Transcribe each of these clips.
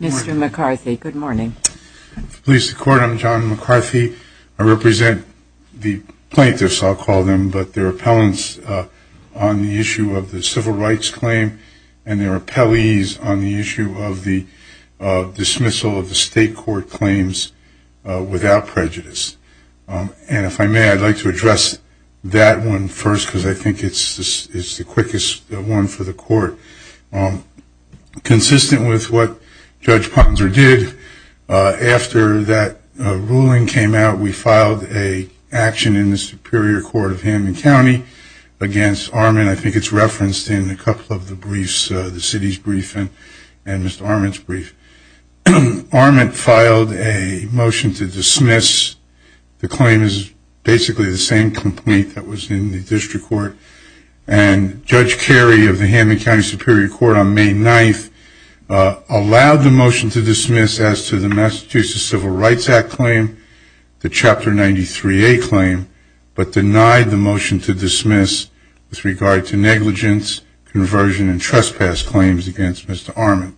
Mr. McCarthy, good morning. Police Department, I'm John McCarthy. I represent the plaintiffs, I'll call them, but there are appellants on the issue of the civil rights claim, and there are appellees on the issue of the dismissal of the state court claims without prejudice. And if I may, I'd like to address that one first, because I think it's the quickest one for the court. Consistent with what Judge Ponzer did, after that ruling came out, we filed an action in the Superior Court of Hammond County against Arment. I think it's referenced in a couple of the briefs, the city's brief and Mr. Arment's brief. Arment filed a motion to dismiss. The claim is basically the same complaint that was in the district court, and Judge Carey of the Hammond County Superior Court on May 9th allowed the motion to dismiss as to the Massachusetts Civil Rights Act claim, the Chapter 93A claim, but denied the motion to dismiss with regard to negligence, conversion, and trespass claims against Mr. Arment.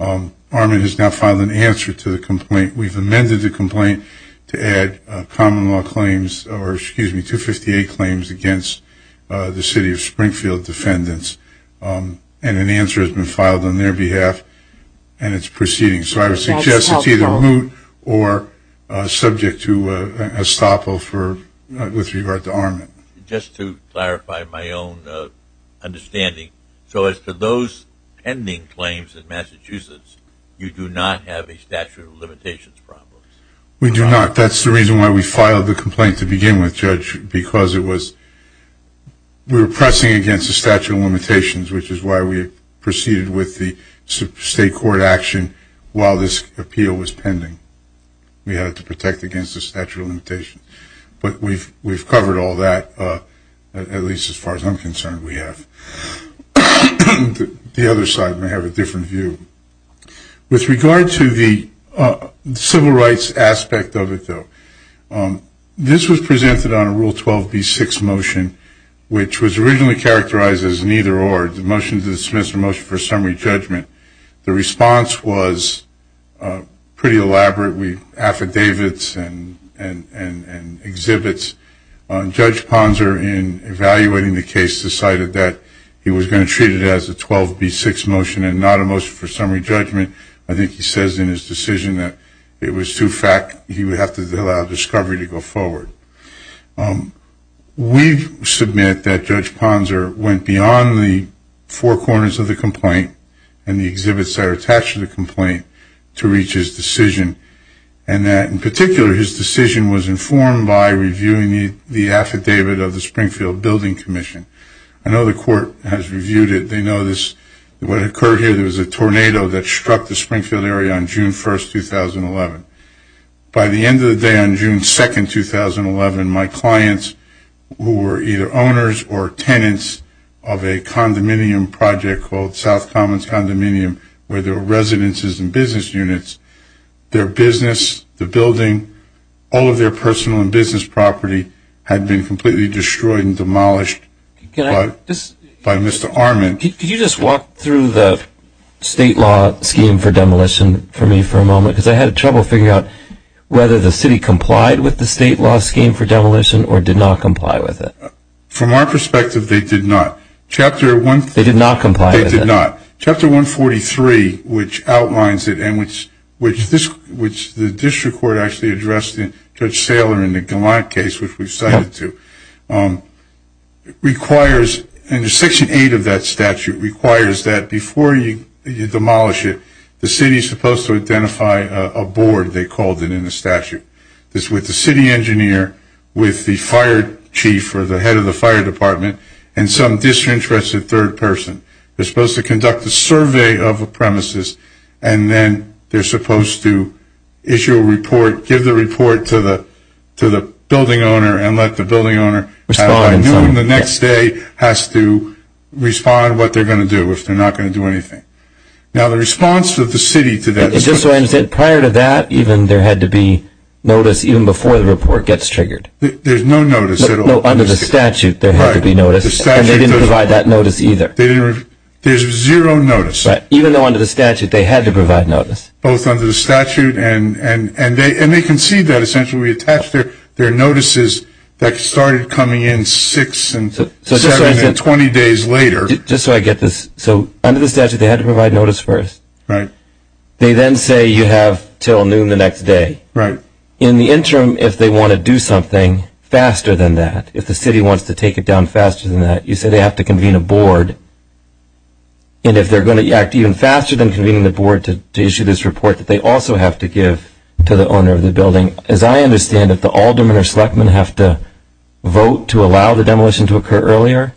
Arment has now filed an answer to the complaint. We've amended the complaint to add common law claims, or excuse me, 258 claims against the city of Springfield defendants, and an answer has been filed on their behalf, and it's proceeding. So I would suggest it's either moot or subject to estoppel with regard to Arment. Just to clarify my own understanding, so as to those pending claims in Massachusetts, you do not have a statute of limitations problem? We do not. That's the reason why we filed the complaint to begin with, Judge, because we were pressing against the statute of limitations, which is why we proceeded with the state court action while this appeal was pending. We had it to protect against the statute of limitations. But we've covered all that, at least as far as I'm concerned we have. The other side may have a different view. With regard to the civil rights aspect of it, though, this was presented on a Rule 12B6 motion, which was originally characterized as neither-or. It's a motion to dismiss or motion for summary judgment. The response was pretty elaborate with affidavits and exhibits. Judge Ponzer, in evaluating the case, decided that he was going to treat it as a 12B6 motion and not a motion for summary judgment. I think he says in his decision that it was too fact. He would have to allow discovery to go forward. We submit that Judge Ponzer went beyond the four corners of the complaint and the exhibits that are attached to the complaint to reach his decision, and that, in particular, his decision was informed by reviewing the affidavit of the Springfield Building Commission. I know the court has reviewed it. What occurred here, there was a tornado that struck the Springfield area on June 1, 2011. By the end of the day on June 2, 2011, my clients, who were either owners or tenants of a condominium project called South Commons Condominium, where there were residences and business units, their business, the building, all of their personal and business property, had been completely destroyed and demolished by Mr. Armand. Could you just walk through the state law scheme for demolition for me for a moment? Because I had trouble figuring out whether the city complied with the state law scheme for demolition or did not comply with it. From our perspective, they did not. They did not comply with it. They did not. Chapter 143, which outlines it and which the district court actually addressed Judge Saylor in the Galant case, which we cited too, requires, in Section 8 of that statute, requires that before you demolish it, the city is supposed to identify a board, they called it in the statute, that's with the city engineer, with the fire chief or the head of the fire department, and some disinterested third person. They're supposed to conduct a survey of a premises, and then they're supposed to issue a report, give the report to the building owner, and let the building owner have by noon the next day, has to respond what they're going to do if they're not going to do anything. Now, the response of the city to that. Just so I understand, prior to that, even there had to be notice even before the report gets triggered? There's no notice at all. No, under the statute, there had to be notice. And they didn't provide that notice either. There's zero notice. Even though under the statute, they had to provide notice. Both under the statute, and they concede that. Essentially, we attached their notices that started coming in six, seven, and 20 days later. Just so I get this. So under the statute, they had to provide notice first. Right. They then say you have until noon the next day. Right. In the interim, if they want to do something faster than that, if the city wants to take it down faster than that, you say they have to convene a board. And if they're going to act even faster than convening the board to issue this report, that they also have to give to the owner of the building. As I understand it, the aldermen or selectmen have to vote to allow the demolition to occur earlier?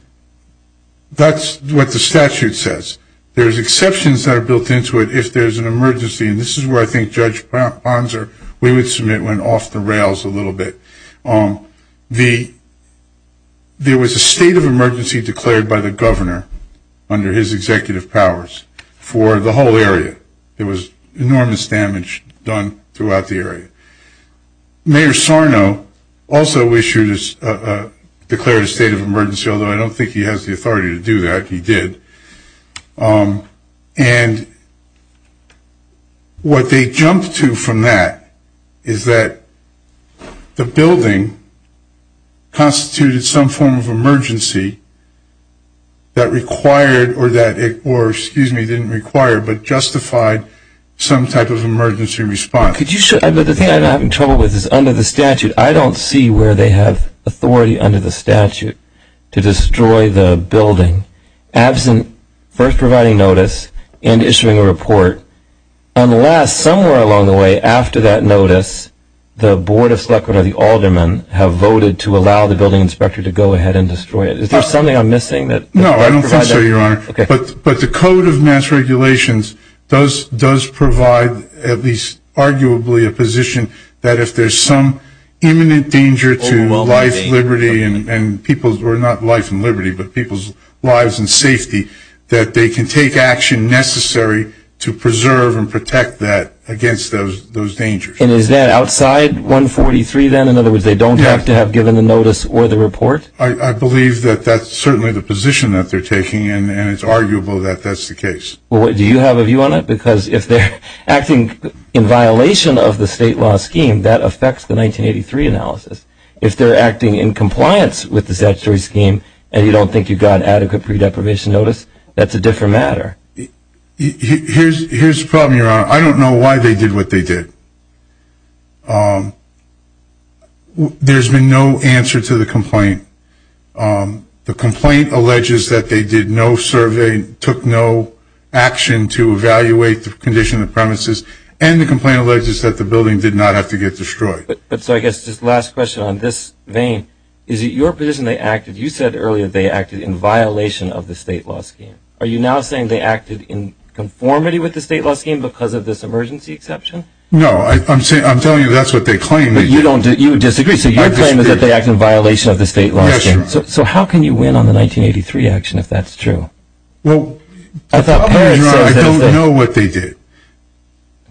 That's what the statute says. There's exceptions that are built into it if there's an emergency. And this is where I think Judge Ponser, we would submit went off the rails a little bit. There was a state of emergency declared by the governor under his executive powers for the whole area. There was enormous damage done throughout the area. Mayor Sarno also declared a state of emergency, although I don't think he has the authority to do that. He did. And what they jumped to from that is that the building constituted some form of emergency that required or didn't require but justified some type of emergency response. The thing I'm having trouble with is under the statute, I don't see where they have authority under the statute to destroy the building absent first providing notice and issuing a report unless somewhere along the way after that notice, the board of selectmen or the aldermen have voted to allow the building inspector to go ahead and destroy it. Is there something I'm missing? No, I don't think so, Your Honor. But the Code of Mass Regulations does provide at least arguably a position that if there's some imminent danger to life, that they can take action necessary to preserve and protect that against those dangers. And is that outside 143 then? In other words, they don't have to have given the notice or the report? I believe that that's certainly the position that they're taking, and it's arguable that that's the case. Well, do you have a view on it? Because if they're acting in violation of the state law scheme, that affects the 1983 analysis. If they're acting in compliance with the statutory scheme and you don't think you've got adequate pre-deprivation notice, that's a different matter. Here's the problem, Your Honor. I don't know why they did what they did. There's been no answer to the complaint. The complaint alleges that they did no survey, took no action to evaluate the condition of the premises, and the complaint alleges that the building did not have to get destroyed. So I guess just last question on this vein. Is it your position they acted, you said earlier they acted in violation of the state law scheme. Are you now saying they acted in conformity with the state law scheme because of this emergency exception? No, I'm telling you that's what they claim. But you disagree. So your claim is that they acted in violation of the state law scheme. Yes, Your Honor. So how can you win on the 1983 action if that's true? Well, I don't know what they did.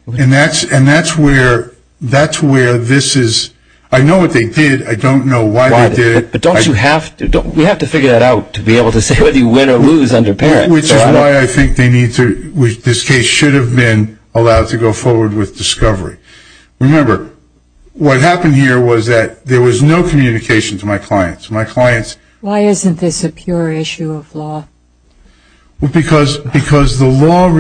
And that's where this is. I know what they did. I don't know why they did it. But don't you have to? We have to figure that out to be able to say whether you win or lose under parents. Which is why I think this case should have been allowed to go forward with discovery. Remember, what happened here was that there was no communication to my clients. Why isn't this a pure issue of law? Because the law.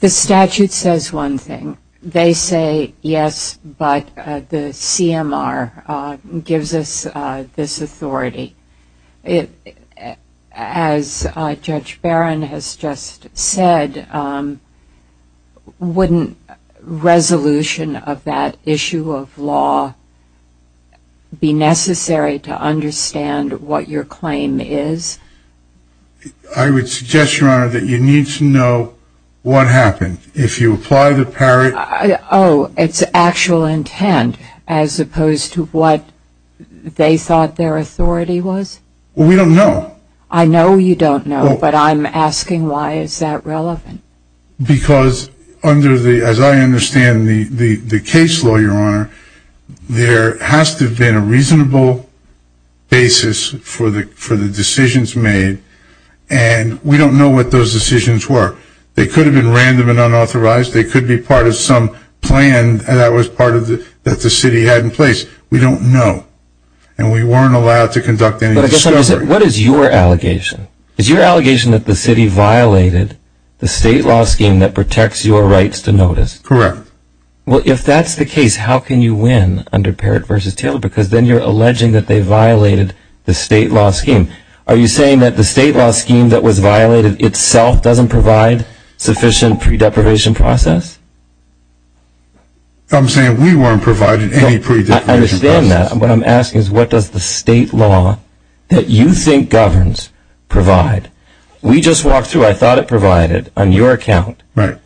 The statute says one thing. They say yes, but the CMR gives us this authority. As Judge Barron has just said, wouldn't resolution of that issue of law be necessary to understand what your claim is? I would suggest, Your Honor, that you need to know what happened. If you apply the parent. Oh, it's actual intent as opposed to what they thought their authority was? We don't know. I know you don't know, but I'm asking why is that relevant? Because under the, as I understand the case law, Your Honor, there has to have been a reasonable basis for the decisions made, and we don't know what those decisions were. They could have been random and unauthorized. They could be part of some plan that the city had in place. We don't know, and we weren't allowed to conduct any discovery. What is your allegation? Is your allegation that the city violated the state law scheme that protects your rights to notice? Correct. Well, if that's the case, how can you win under Parrott v. Taylor? Because then you're alleging that they violated the state law scheme. Are you saying that the state law scheme that was violated itself doesn't provide sufficient pre-deprivation process? I'm saying we weren't provided any pre-deprivation process. I understand that. What I'm asking is what does the state law that you think governs provide? We just walked through. So I thought it provided, on your account, an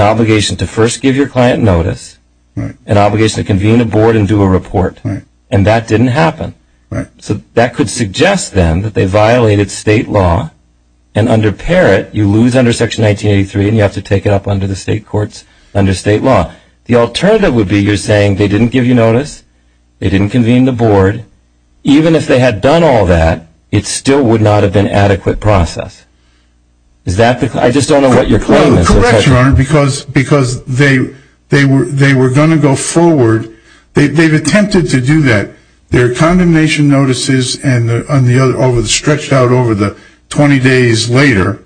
obligation to first give your client notice, an obligation to convene a board and do a report, and that didn't happen. So that could suggest, then, that they violated state law, and under Parrott you lose under Section 1983 and you have to take it up under the state courts under state law. The alternative would be you're saying they didn't give you notice, they didn't convene the board. Even if they had done all that, it still would not have been adequate process. I just don't know what your claim is. Correct, Your Honor, because they were going to go forward. They've attempted to do that. Their condemnation notices stretched out over the 20 days later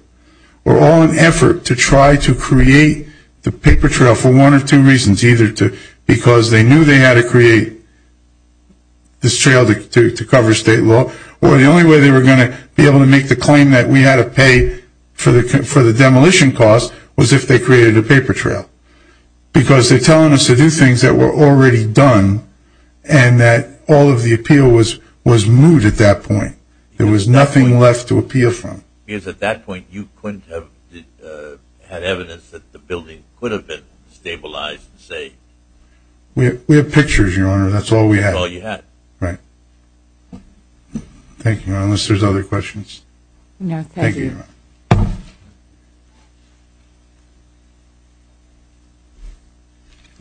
were all an effort to try to create the paper trail for one or two reasons, either because they knew they had to create this trail to cover state law, or the only way they were going to be able to make the claim that we had to pay for the demolition cost was if they created a paper trail. Because they're telling us to do things that were already done, and that all of the appeal was moved at that point. There was nothing left to appeal from. Because at that point you couldn't have had evidence that the building could have been stabilized and saved. We have pictures, Your Honor, that's all we have. That's all you have. Right. Thank you, Your Honor, unless there's other questions. No, thank you. Thank you, Your Honor.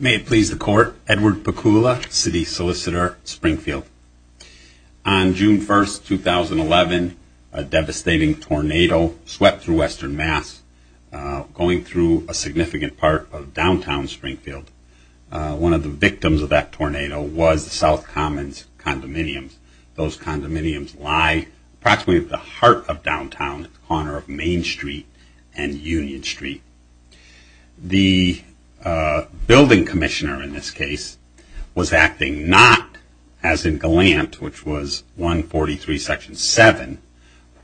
May it please the Court, Edward Pecoula, city solicitor, Springfield. On June 1st, 2011, a devastating tornado swept through Western Mass, going through a significant part of downtown Springfield. One of the victims of that tornado was the South Commons condominiums. Those condominiums lie approximately at the heart of downtown, at the corner of Main Street and Union Street. The building commissioner in this case was acting not as in Gallant, which was 143 section 7,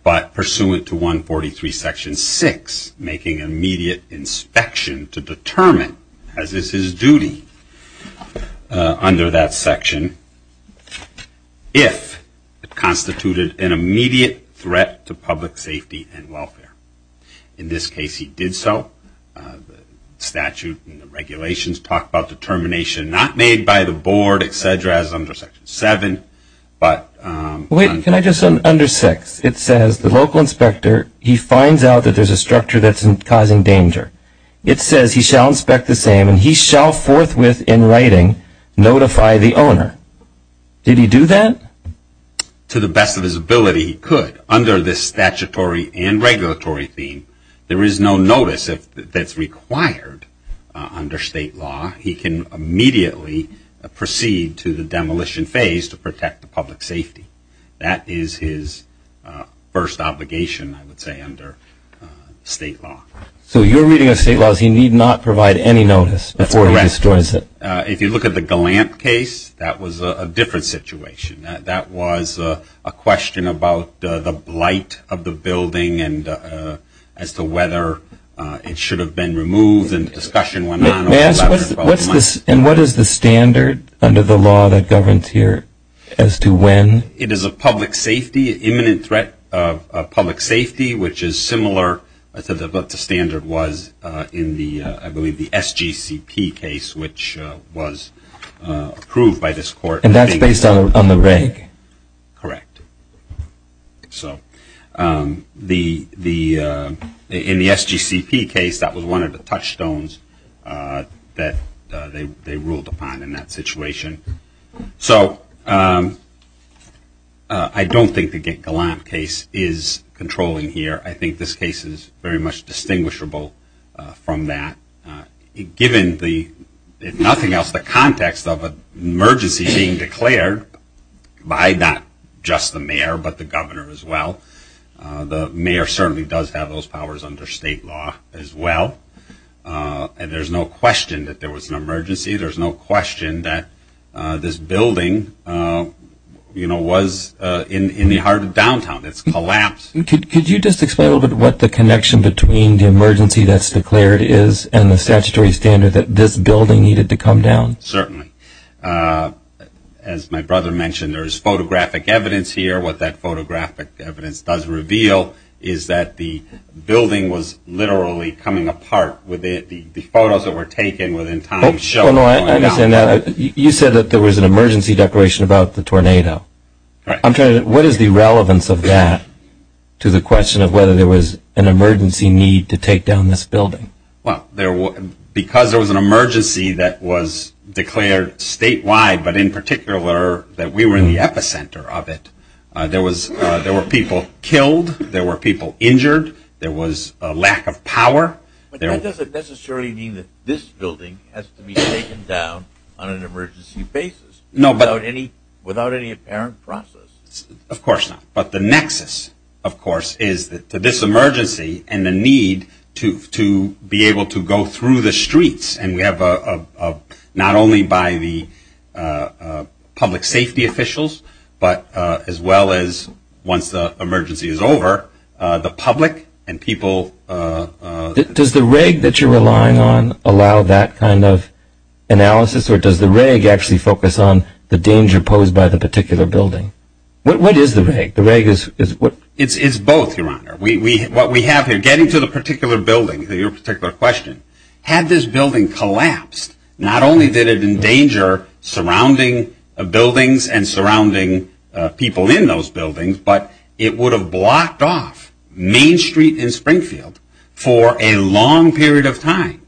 but pursuant to 143 section 6, making an immediate inspection to determine, as is his duty under that section, if it constituted an immediate threat to public safety and welfare. In this case, he did so. The statute and the regulations talk about determination not made by the board, et cetera, as under section 7. Wait, can I just, under 6, it says the local inspector, he finds out that there's a structure that's causing danger. It says he shall inspect the same and he shall forthwith, in writing, notify the owner. Did he do that? To the best of his ability, he could. Under this statutory and regulatory theme, there is no notice that's required under state law. He can immediately proceed to the demolition phase to protect the public safety. That is his first obligation, I would say, under state law. So your reading of state law is he need not provide any notice before he destroys it? That's correct. If you look at the Gallant case, that was a different situation. That was a question about the blight of the building and as to whether it should have been removed and the discussion went on. And what is the standard under the law that governs here as to when? It is a public safety, imminent threat of public safety, which is similar, but the standard was in the, I believe, the SGCP case, which was approved by this court. And that's based on the reg? Correct. So in the SGCP case, that was one of the touchstones that they ruled upon in that situation. So I don't think the Gallant case is controlling here. I think this case is very much distinguishable from that. Given the, if nothing else, the context of an emergency being declared by not just the mayor, but the governor as well, the mayor certainly does have those powers under state law as well. And there's no question that there was an emergency. There's no question that this building, you know, was in the heart of downtown. It's collapsed. Could you just explain a little bit what the connection between the emergency that's declared is and the statutory standard that this building needed to come down? Certainly. As my brother mentioned, there's photographic evidence here. What that photographic evidence does reveal is that the building was literally coming apart. The photos that were taken within time show it going down. I understand that. You said that there was an emergency declaration about the tornado. What is the relevance of that to the question of whether there was an emergency need to take down this building? Well, because there was an emergency that was declared statewide, but in particular that we were in the epicenter of it, there were people killed. There were people injured. There was a lack of power. But that doesn't necessarily mean that this building has to be taken down on an emergency basis. Without any apparent process. Of course not. But the nexus, of course, is to this emergency and the need to be able to go through the streets. And we have not only by the public safety officials, but as well as once the emergency is over, the public and people. Does the reg that you're relying on allow that kind of analysis, or does the reg actually focus on the danger posed by the particular building? What is the reg? The reg is what? It's both, Your Honor. What we have here, getting to the particular building, your particular question, had this building collapsed, not only did it endanger surrounding buildings and surrounding people in those buildings, but it would have blocked off Main Street and Springfield for a long period of time.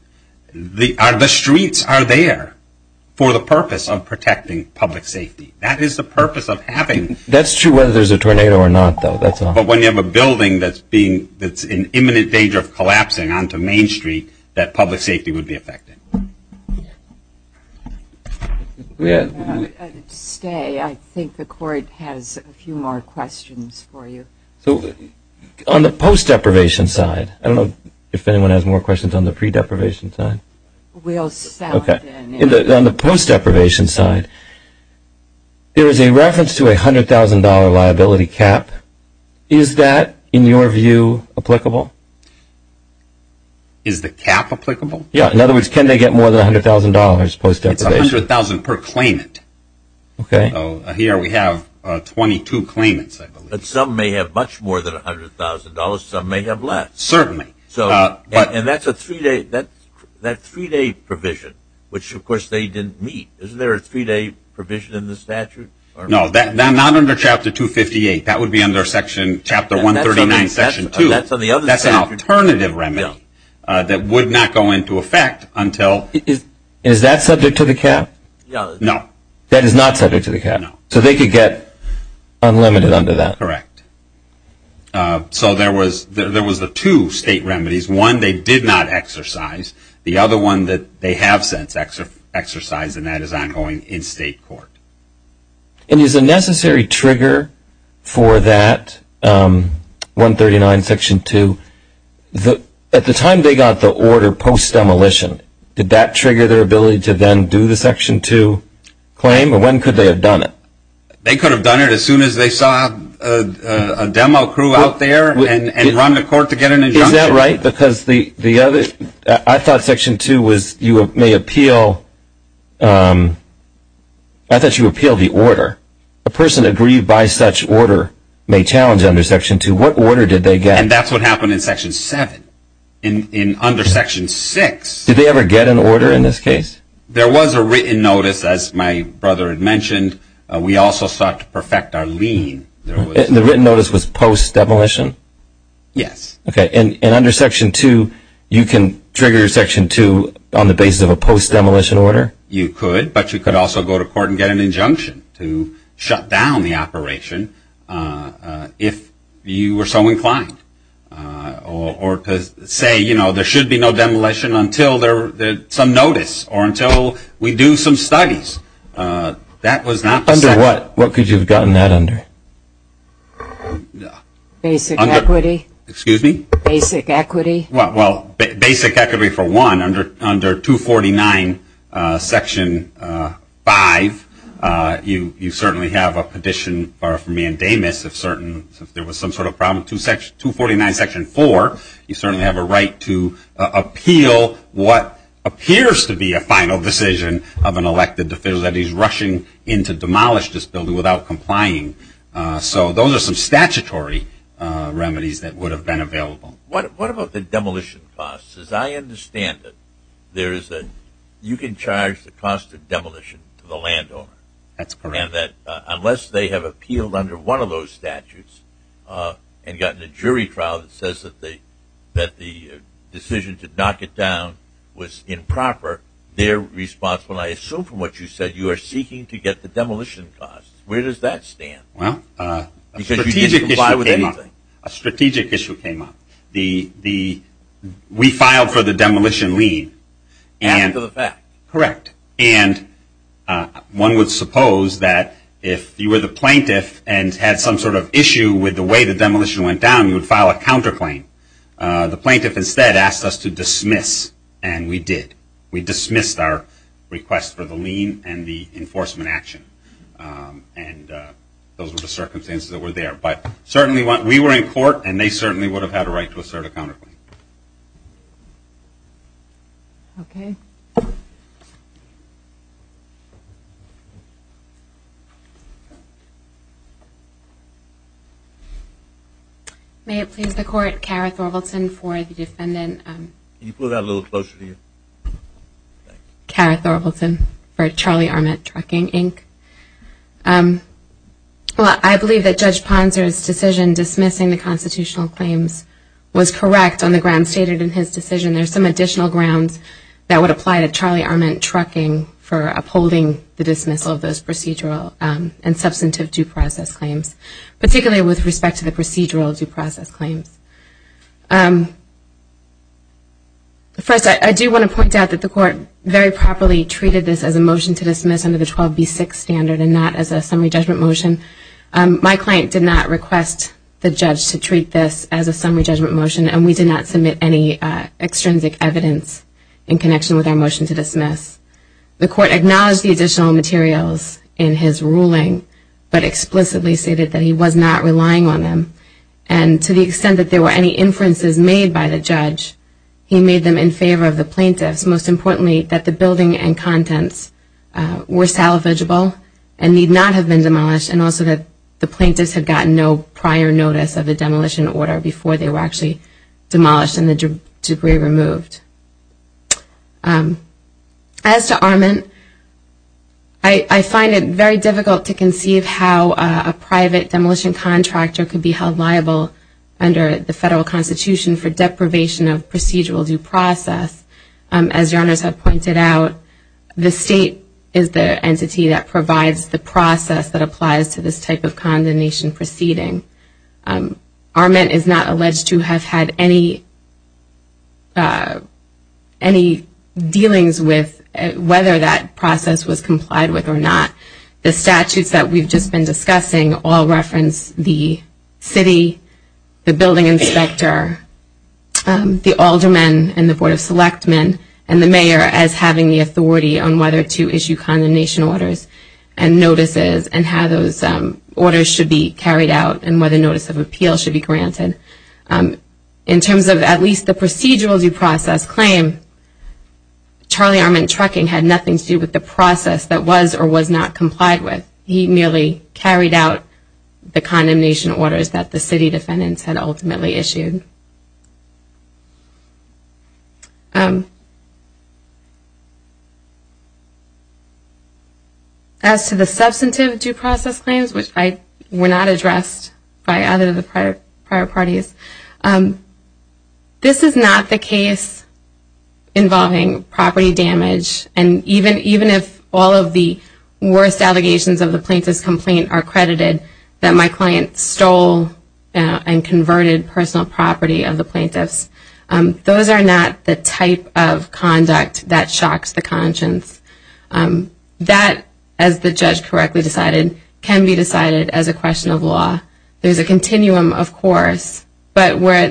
The streets are there for the purpose of protecting public safety. That is the purpose of having. That's true whether there's a tornado or not, though. But when you have a building that's in imminent danger of collapsing onto Main Street, that public safety would be affected. To stay, I think the court has a few more questions for you. On the post-deprivation side, I don't know if anyone has more questions on the pre-deprivation side. We'll sound in. On the post-deprivation side, there is a reference to a $100,000 liability cap. Is that, in your view, applicable? Is the cap applicable? Yes. In other words, can they get more than $100,000 post-deprivation? It's $100,000 per claimant. Here we have 22 claimants, I believe. Some may have much more than $100,000. Some may have less. And that's a three-day provision, which, of course, they didn't meet. Isn't there a three-day provision in the statute? No, not under Chapter 258. That would be under Chapter 139, Section 2. That's an alternative remedy that would not go into effect until... Is that subject to the cap? No. That is not subject to the cap? No. So they could get unlimited under that? Correct. So there was the two state remedies. One, they did not exercise. The other one, they have since exercised, and that is ongoing in state court. And is a necessary trigger for that, 139, Section 2, at the time they got the order post-demolition, did that trigger their ability to then do the Section 2 claim, or when could they have done it? They could have done it as soon as they saw a demo crew out there and run to court to get an injunction. Is that right? I thought Section 2 was you may appeal the order. A person aggrieved by such order may challenge under Section 2. What order did they get? And that's what happened in Section 7. In under Section 6... Did they ever get an order in this case? There was a written notice, as my brother had mentioned. We also sought to perfect our lien. The written notice was post-demolition? Yes. Okay, and under Section 2, you can trigger Section 2 on the basis of a post-demolition order? You could, but you could also go to court and get an injunction to shut down the operation if you were so inclined. Or say, you know, there should be no demolition until some notice or until we do some studies. Under what? What could you have gotten that under? Basic equity. Excuse me? Basic equity. Well, basic equity for one, under 249 Section 5, you certainly have a petition for a mandamus if there was some sort of problem. 249 Section 4, you certainly have a right to appeal what appears to be a final decision of an elected official that he's rushing in to demolish this building without complying. So those are some statutory remedies that would have been available. What about the demolition costs? As I understand it, you can charge the cost of demolition to the landowner. That's correct. Unless they have appealed under one of those statutes and gotten a jury trial that says that the decision to knock it down was improper, they're responsible, and I assume from what you said, you are seeking to get the demolition costs. Where does that stand? Well, a strategic issue came up. A strategic issue came up. We filed for the demolition lien. After the fact. Correct. And one would suppose that if you were the plaintiff and had some sort of issue with the way the demolition went down, you would file a counterclaim. The plaintiff instead asked us to dismiss, and we did. We dismissed our request for the lien and the enforcement action, and those were the circumstances that were there. But we were in court, and they certainly would have had a right to assert a counterclaim. Okay. May it please the Court, for the defendant. Can you pull that a little closer to you? For Charlie Arment Trucking, Inc. Well, I believe that Judge Ponzer's decision dismissing the constitutional claims was correct on the grounds stated in his decision. There's some additional grounds that would apply to Charlie Arment Trucking for upholding the dismissal of those procedural and substantive due process claims, particularly with respect to the procedural due process claims. First, I do want to point out that the Court very properly treated this as a motion to dismiss under the 12B6 standard and not as a summary judgment motion. My client did not request the judge to treat this as a summary judgment motion, and we did not submit any extrinsic evidence in connection with our motion to dismiss. The Court acknowledged the additional materials in his ruling but explicitly stated that he was not relying on them. And to the extent that there were any inferences made by the judge, he made them in favor of the plaintiffs. Most importantly, that the building and contents were salvageable and need not have been demolished, and also that the plaintiffs had gotten no prior notice of the demolition order before they were actually demolished and the debris removed. As to Arment, I find it very difficult to conceive how a private demolition contractor could be held liable under the Federal Constitution for deprivation of procedural due process. As your Honors have pointed out, the State is the entity that provides the process that applies to this type of condemnation proceeding. Arment is not alleged to have had any prior experience or any dealings with whether that process was complied with or not. The statutes that we've just been discussing all reference the city, the building inspector, the alderman and the board of selectmen, and the mayor as having the authority on whether to issue condemnation orders and notices and how those orders should be carried out and whether notice of appeal should be granted. In terms of at least the procedural due process claim, Charlie Arment Trucking had nothing to do with the process that was or was not complied with. He merely carried out the condemnation orders that the city defendants had ultimately issued. As to the substantive due process claims, which were not addressed by other prior parties, this is not the case involving property damage. And even if all of the worst allegations of the plaintiff's complaint are credited, that my client stole and converted personal property of the plaintiffs, those are not the type of conduct that shocks the conscience. That, as the judge correctly decided, can be decided as a question of law. There's a continuum, of course, but where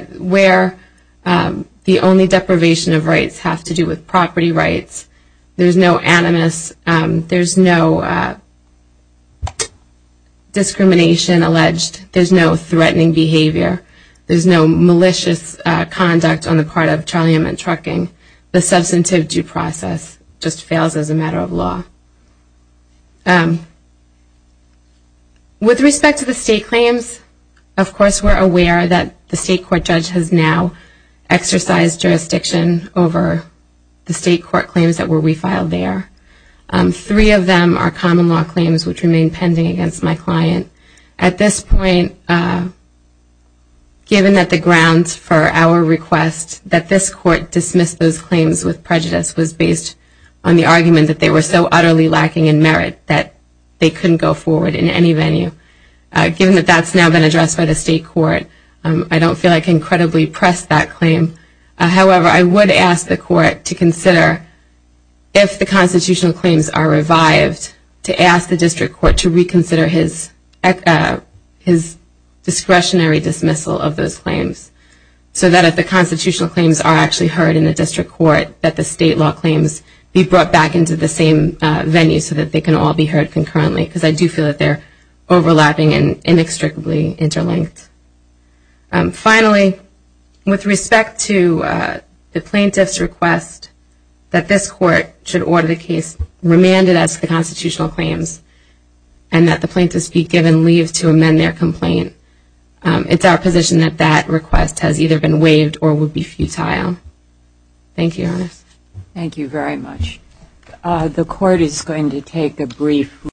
the only deprivation of rights have to do with property rights. There's no animus. There's no discrimination alleged. There's no threatening behavior. There's no malicious conduct on the part of Charlie Arment Trucking. The substantive due process just fails as a matter of law. With respect to the state claims, of course we're aware that the state court judge has now exercised jurisdiction over the state court claims that were refiled there. Three of them are common law claims, which remain pending against my client. At this point, given that the grounds for our request that this court dismiss those claims with prejudice was based on the argument that they were so utterly lacking in merit that they couldn't go forward in any venue, given that that's now been addressed by the state court, I don't feel I can credibly press that claim. However, I would ask the court to consider, if the constitutional claims are revived, to ask the district court to reconsider his discretionary dismissal of those claims so that if the constitutional claims are actually heard in the district court, that the state law claims be brought back into the same venue so that they can all be heard concurrently, because I do feel that they're overlapping and inextricably interlinked. Finally, with respect to the plaintiff's request that this court should order the case remanded as to the constitutional claims and that the plaintiffs be given leave to amend their complaint, it's our position that that request has either been waived or would be futile. Thank you, Your Honor. Thank you very much. The court is going to take a brief recess.